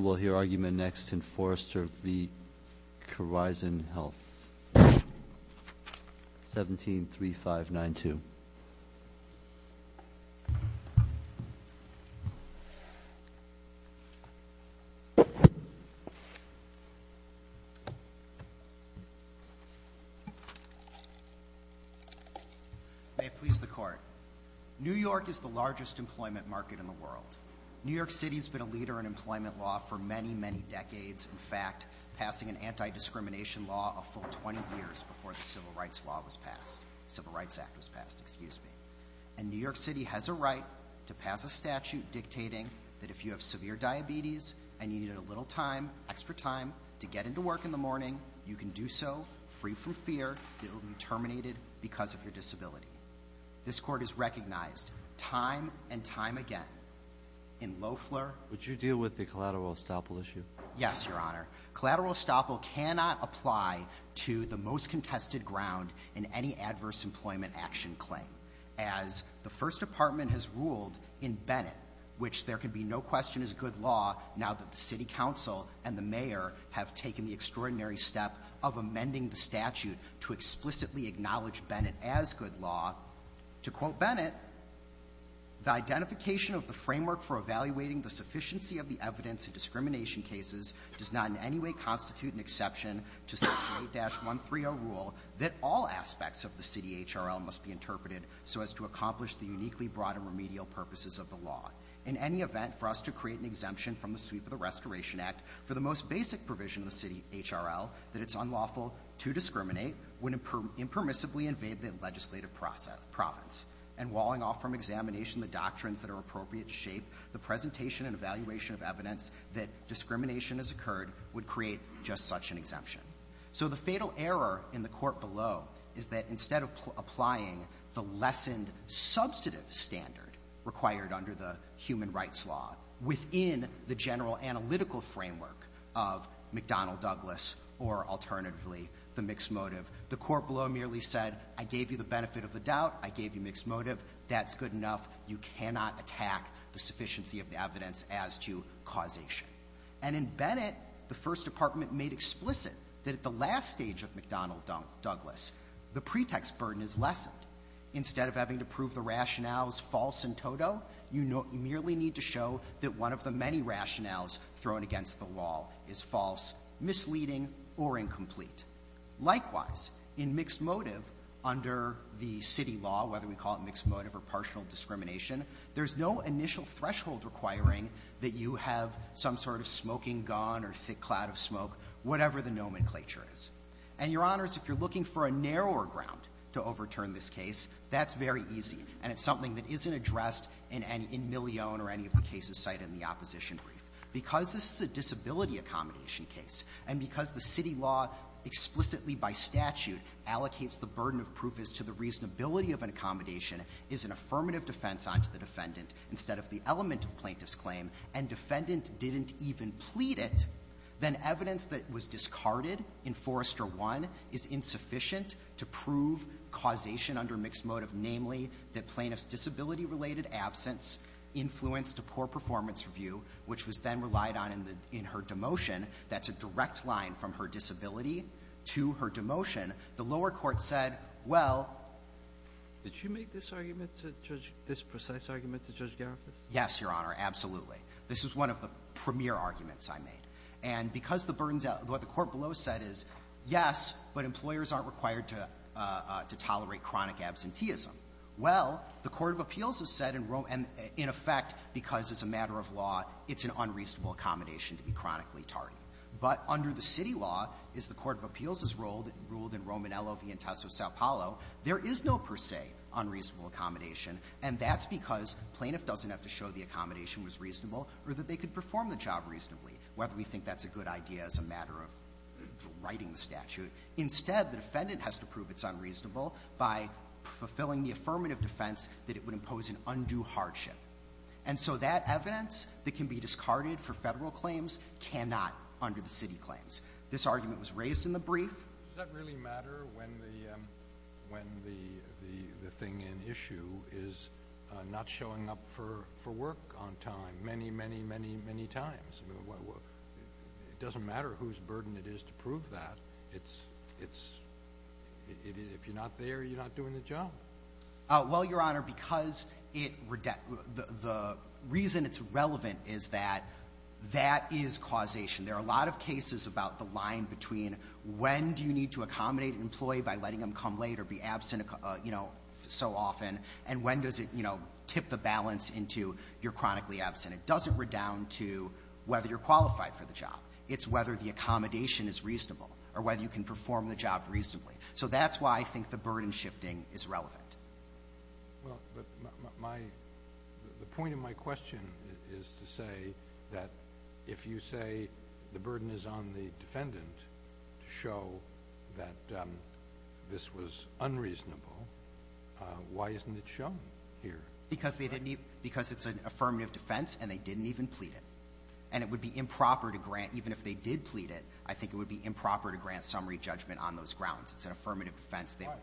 will hear argument next in Forrester v. Corizon Health. 17-3592. May it please the court. New York is the largest employment market in the world. New York City has been a leader in employment law for many, many decades. In fact, passing an anti-discrimination law a full 20 years before the Civil Rights Act was passed. And New York City has a right to pass a statute dictating that if you have severe diabetes and you need a little time, extra time, to get into work in the morning, you can do so free from fear that you'll be terminated because of your disability. This court has recognized time and time again in Loeffler... Would you deal with the collateral estoppel issue? Yes, Your Honor. Collateral estoppel cannot apply to the most contested ground in any adverse employment action claim. As the First Department has ruled in Bennett, which there can be no question is good law now that the City Council and the Mayor have taken the extraordinary step of amending the statute to explicitly acknowledge Bennett as good law, to quote Bennett, the identification of the framework for evaluating the sufficiency of the evidence in discrimination cases does not in any way constitute an exception to Section 8-130 rule that all aspects of the City H.R.L. must be interpreted so as to accomplish the uniquely broad and remedial purposes of the law. In any event, for us to create an exemption from the sweep of the Restoration Act for the most basic provision of the City H.R.L., that it's unlawful to discriminate, would impermissibly invade the legislative province. And walling off from examination the doctrines that are appropriate to shape the presentation and evaluation of evidence that discrimination has occurred would create just such an exemption. So the fatal error in the court below is that instead of applying the lessened substantive standard required under the human rights law within the general analytical framework of McDonnell-Douglas or alternatively the mixed motive, the court below merely said I gave you the benefit of the doubt, I gave you mixed motive, that's good enough, you cannot attack the sufficiency of the evidence as to causation. And in Bennett, the First Department made explicit that at the last stage of McDonnell-Douglas, the pretext burden is lessened. Instead of having to prove the rationales false in toto, you merely need to show that one of the many rationales thrown against the law is false, misleading or incomplete. Likewise, in mixed motive under the City law, whether we call it mixed motive or partial discrimination, there is no initial threshold requiring that you have some sort of smoking gun or thick cloud of smoke, whatever the nomenclature is. And, Your Honors, if you're looking for a narrower ground to overturn this case, that's very easy. And it's something that isn't addressed in Millione or any of the cases cited in the opposition brief. Because this is a disability accommodation case, and because the City law explicitly by statute allocates the burden of proof as to the reasonability of an accommodation is an affirmative defense on to the defendant instead of the element of plaintiff's claim, and defendant didn't even plead it, then evidence that was discarded in Forrester 1 is insufficient to prove causation under mixed motive, namely, that plaintiff's disability-related absence influenced a poor performance review, which was then relied on in the — in her demotion. That's a direct line from her disability to her demotion. The lower court said, well — Sotomayor, did you make this argument to Judge — this precise argument to Judge Blumenthal specifically? This is one of the premier arguments I made. And because the burdens — what the court below said is, yes, but employers aren't required to tolerate chronic absenteeism. Well, the court of appeals has said in Rome — and in effect, because it's a matter of law, it's an unreasonable accommodation to be chronically tardy. But under the City law, as the court of appeals has ruled in Romanello v. Entesso-Sao Paulo, there is no per se unreasonable accommodation, and that's because plaintiff doesn't have to show the accommodation was reasonable or that they could perform the job reasonably, whether we think that's a good idea as a matter of writing the statute. Instead, the defendant has to prove it's unreasonable by fulfilling the affirmative defense that it would impose an undue hardship. And so that evidence that can be discarded for Federal claims cannot under the City claims. This argument was raised in the brief. Does that really matter when the thing in issue is not showing up for work on time many, many, many, many times? It doesn't matter whose burden it is to prove that. It's — if you're not there, you're not doing the job. Well, Your Honor, because it — the reason it's relevant is that that is causation. There are a lot of cases about the line between when do you need to accommodate an employee by letting them come late or be absent, you know, so often, and when does it, you know, tip the balance into you're chronically absent. It doesn't redound to whether you're qualified for the job. It's whether the accommodation is reasonable or whether you can perform the job reasonably. So that's why I think the burden shifting is relevant. Well, but my — the point of my question is to say that if you say the burden is on the defendant to show that this was unreasonable, why isn't it shown here? Because they didn't need — because it's an affirmative defense, and they didn't even plead it. And it would be improper to grant — even if they did plead it, I think it would be improper to grant summary judgment on those grounds. It's an affirmative defense. All right.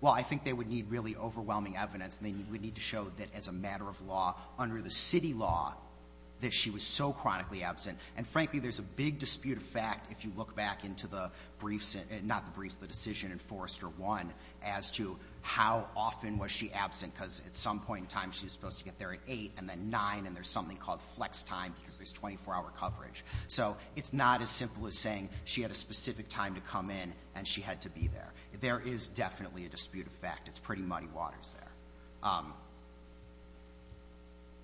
Well, I think they would need really overwhelming evidence, and they would need to show that as a matter of law, under the city law, that she was so chronically absent. And frankly, there's a big dispute of fact if you look back into the briefs — not the briefs, the decision in Forrester 1 as to how often was she absent, because at some point in time she's supposed to get there at 8, and then 9, and there's something called flex time because there's 24-hour coverage. So it's not as simple as saying she had a specific time to come in and she had to be there. There is definitely a dispute of fact. It's pretty muddy waters there.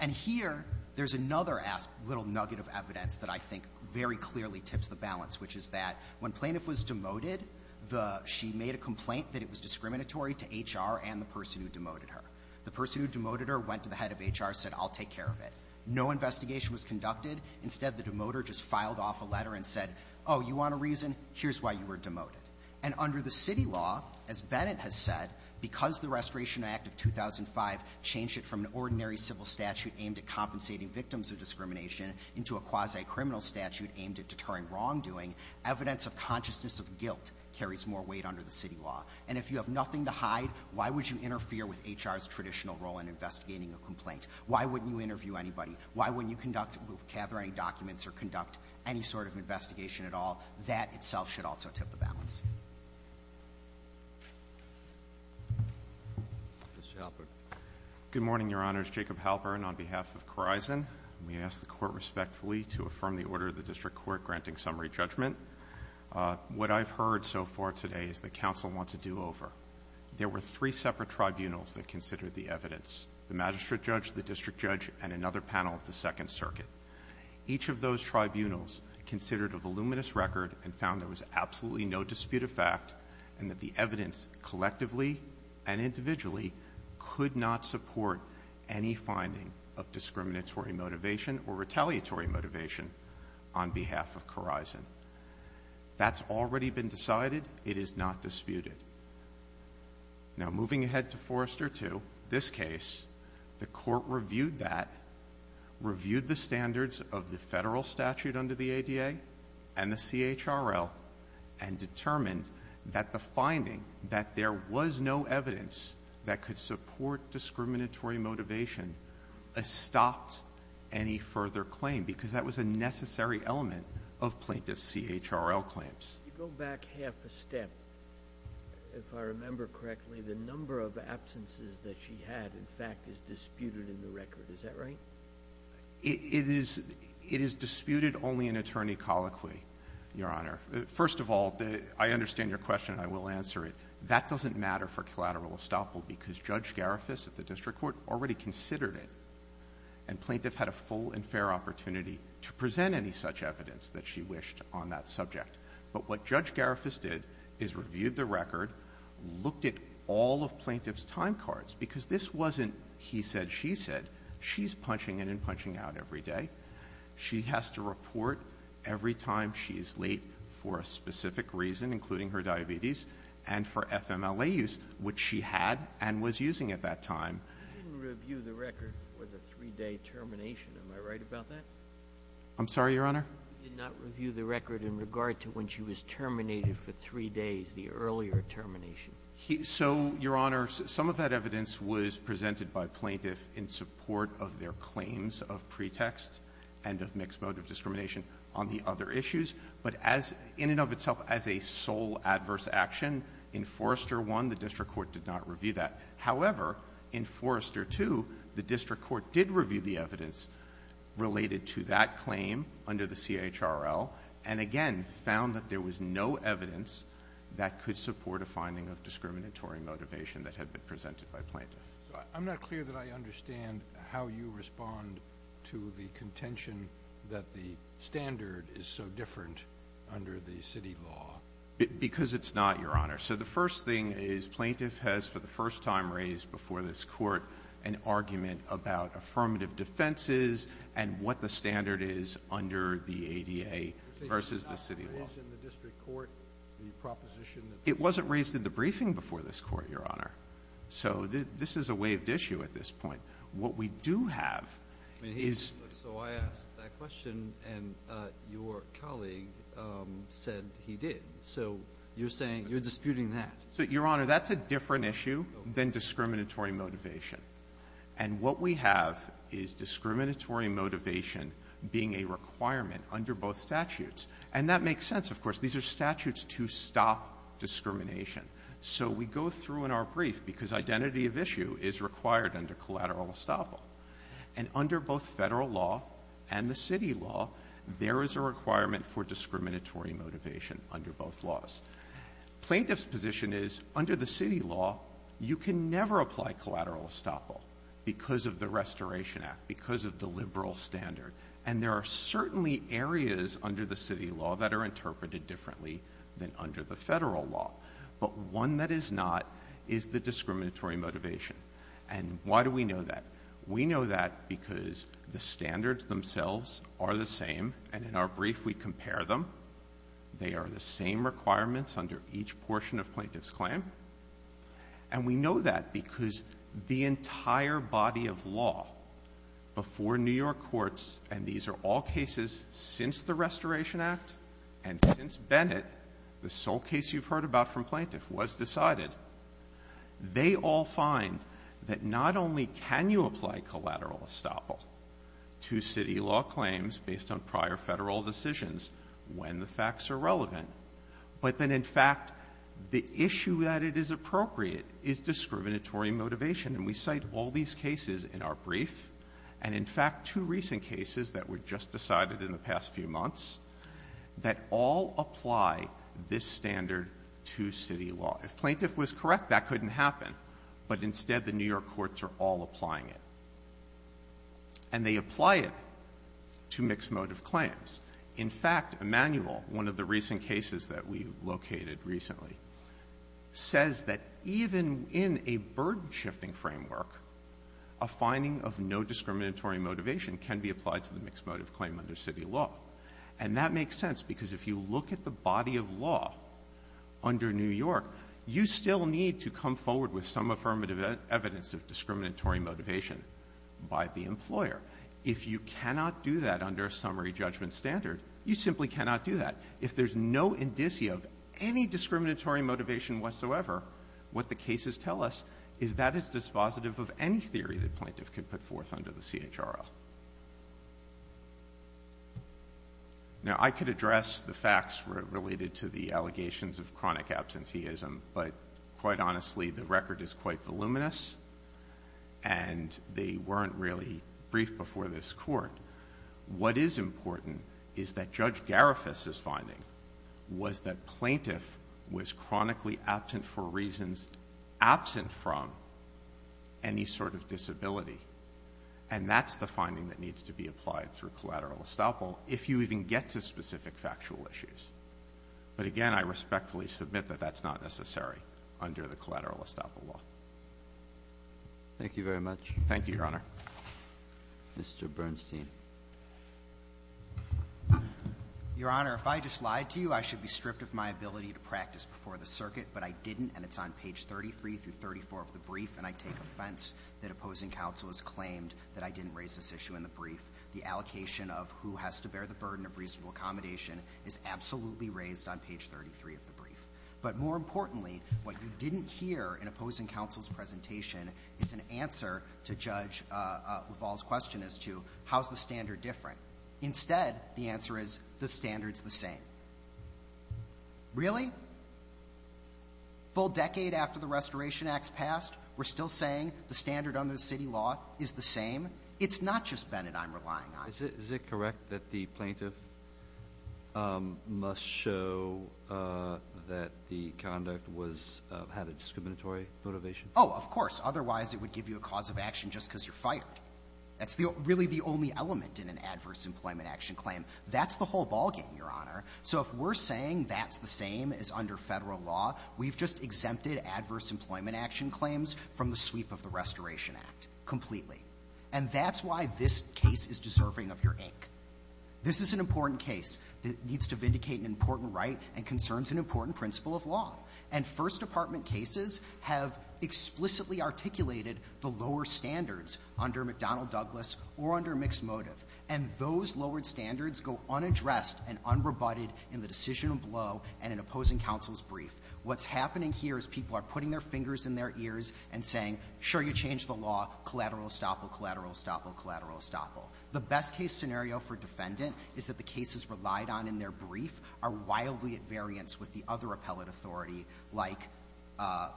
And here, there's another little nugget of evidence that I think very clearly tips the balance, which is that when Plaintiff was demoted, the — she made a complaint that it was discriminatory to HR and the person who demoted her. The person who demoted her went to the head of HR, said, I'll take care of it. No investigation was conducted. Instead, the demoter just filed off a letter and said, oh, you want a reason? Here's why you were demoted. And under the city law, as Bennett has said, because the Restoration Act of 2005 changed it from an ordinary civil statute aimed at compensating victims of discrimination into a quasi-criminal statute aimed at deterring wrongdoing, evidence of consciousness of guilt carries more weight under the city law. And if you have nothing to hide, why wouldn't you interview anybody? Why wouldn't you conduct — gather any documents or conduct any sort of investigation at all? That itself should also tip the balance. Mr. Halpern. Good morning, Your Honors. Jacob Halpern on behalf of Korizon. We ask the Court respectfully to affirm the order of the district court granting summary judgment. What I've heard so far today is that counsel wants a do-over. There were three separate tribunals that considered the evidence, the magistrate judge, the district judge, and another panel of the Second Circuit. Each of those tribunals considered a voluminous record and found there was absolutely no dispute of fact and that the evidence collectively and individually could not support any finding of discriminatory motivation or retaliatory motivation on behalf of Korizon. That's already been decided. It is not disputed. Now, moving ahead to Forrester 2, this case, the Court reviewed that, reviewed the standards of the federal statute under the ADA and the CHRL, and determined that the finding that there was no evidence that could support discriminatory motivation stopped any further claim because that was a necessary element of plaintiff's CHRL claims. Go back half a step, if I remember correctly. The number of absences that she had, in fact, is disputed in the record. Is that right? It is disputed only in attorney colloquy, Your Honor. First of all, I understand your question and I will answer it. That doesn't matter for collateral estoppel because Judge Garifuss did not have much evidence that she wished on that subject. But what Judge Garifuss did is reviewed the record, looked at all of plaintiff's time cards, because this wasn't he said, she said. She's punching in and punching out every day. She has to report every time she is late for a specific reason, including her diabetes, and for FMLA use, which she had and was using at that time. I didn't review the record for the three-day termination. Am I right about that? I'm sorry, Your Honor? He did not review the record in regard to when she was terminated for three days, the earlier termination. So, Your Honor, some of that evidence was presented by plaintiff in support of their claims of pretext and of mixed motive discrimination on the other issues. But as — in and of itself as a sole adverse action, in Forrester I, the district court did not review that. However, in Forrester II, the district court did review the evidence related to that claim under the CHRL and, again, found that there was no evidence that could support a finding of discriminatory motivation that had been presented by plaintiff. I'm not clear that I understand how you respond to the contention that the standard is so different under the city law. Because it's not, Your Honor. So the first thing is plaintiff has for the first time raised before this court an argument about affirmative defenses and what the standard is under the ADA versus the city law. It was not raised in the district court, the proposition that — It wasn't raised in the briefing before this court, Your Honor. So this is a waived issue at this point. What we do have is — So I asked that question and your colleague said he did. So you're saying — you're disputing that. So, Your Honor, that's a different issue than discriminatory motivation. And what we have is discriminatory motivation being a requirement under both statutes. And that makes sense, of course. These are statutes to stop discrimination. So we go through in our brief, because identity of issue is required under collateral estoppel. And under both Federal law and the city law, there is a requirement for discriminatory motivation under both laws. Plaintiff's position is, under the city law, you can never apply collateral estoppel because of the Restoration Act, because of the liberal standard. And there are certainly areas under the city law that are interpreted differently than under the Federal law. But one that is not is the discriminatory motivation. And why do we know that? We know that because the standards themselves are the same. And in our brief, we compare them. They are the same requirements under each portion of plaintiff's claim. And we know that because the entire body of law before New York courts — and these are all cases since the Restoration Act and since Bennett, the sole case you've heard about from plaintiff was decided — they all find that not only can you apply collateral estoppel to city law claims based on prior Federal decisions when the facts are relevant, but then, in fact, the issue that it is appropriate is discriminatory motivation. And we cite all these cases in our brief, and in fact, two recent cases that were just decided in the past few months, that all apply this standard to city law. If plaintiff was correct, that couldn't happen. But instead, the New York courts are all applying it. And they apply it to mixed-motive claims. In fact, Emanuel, one of the recent cases that we located recently, says that even in a burden-shifting framework, a finding of no discriminatory motivation can be applied to the mixed-motive claim under city law. And that makes sense, because if you look at the body of law under New York, you still need to come forward with some affirmative evidence of discriminatory motivation by the employer. If you cannot do that under a summary judgment standard, you simply cannot do that. If there's no indicia of any discriminatory motivation whatsoever, what the cases tell us is that it's dispositive of any theory that plaintiff can put forth under the CHRL. Now, I could address the facts related to the allegations of chronic absenteeism, but quite honestly, the record is quite voluminous, and they weren't really brief before this Court. What is important is that Judge Garifuss's finding was that disability, and that's the finding that needs to be applied through collateral estoppel if you even get to specific factual issues. But again, I respectfully submit that that's not necessary under the collateral estoppel law. Thank you very much. Thank you, Your Honor. Mr. Bernstein. Your Honor, if I just lied to you, I should be stripped of my ability to practice before the circuit, but I didn't, and it's on page 33 through 34 of the brief, and I take offense that opposing counsel has claimed that I didn't raise this issue in the brief. The allocation of who has to bear the burden of reasonable accommodation is absolutely raised on page 33 of the brief. But more importantly, what you didn't hear in opposing counsel's presentation is an answer to Judge LaValle's question as to how's the standard different. Instead, the answer is the standard's the same. Really? Full decade after the Restoration Acts passed, we're still saying the standard under the city law is the same? It's not just Bennett I'm relying on. Is it correct that the plaintiff must show that the conduct was of had a discriminatory motivation? Oh, of course. Otherwise, it would give you a cause of action just because you're really the only element in an adverse employment action claim. That's the whole ball game, Your Honor. So if we're saying that's the same as under Federal law, we've just exempted adverse employment action claims from the sweep of the Restoration Act completely. And that's why this case is deserving of your ink. This is an important case that needs to vindicate an important right and concerns an important principle of law. And First Department cases have explicitly articulated the lower standards under McDonnell-Douglas or under mixed motive. And those lowered standards go unaddressed and unrebutted in the decisional blow and in opposing counsel's brief. What's happening here is people are putting their fingers in their ears and saying, sure, you changed the law, collateral estoppel, collateral estoppel, collateral estoppel. The best-case scenario for defendant is that the cases relied on in their brief are wildly at variance with the other appellate authority, like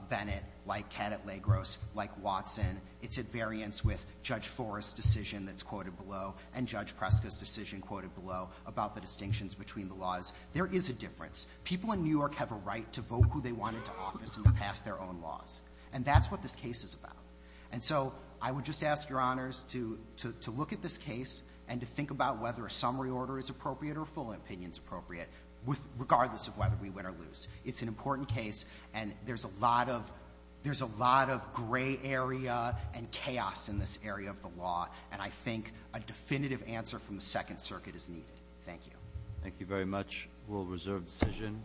Bennett, like Cadet Lagros, like Watson. It's at variance with Judge Forrest's decision that's quoted below and Judge Preska's decision quoted below about the distinctions between the laws. There is a difference. People in New York have a right to vote who they want into office and to pass their own laws. And that's what this case is about. And so I would just ask, Your Honors, to look at this case and to think about whether a summary order is appropriate or a full opinion is appropriate, regardless of whether we win or lose. It's an important case, and there's a lot of gray area and chaos in this area of the law. And I think a definitive answer from the Second Circuit is needed. Thank you. Thank you very much. We'll reserve the decision.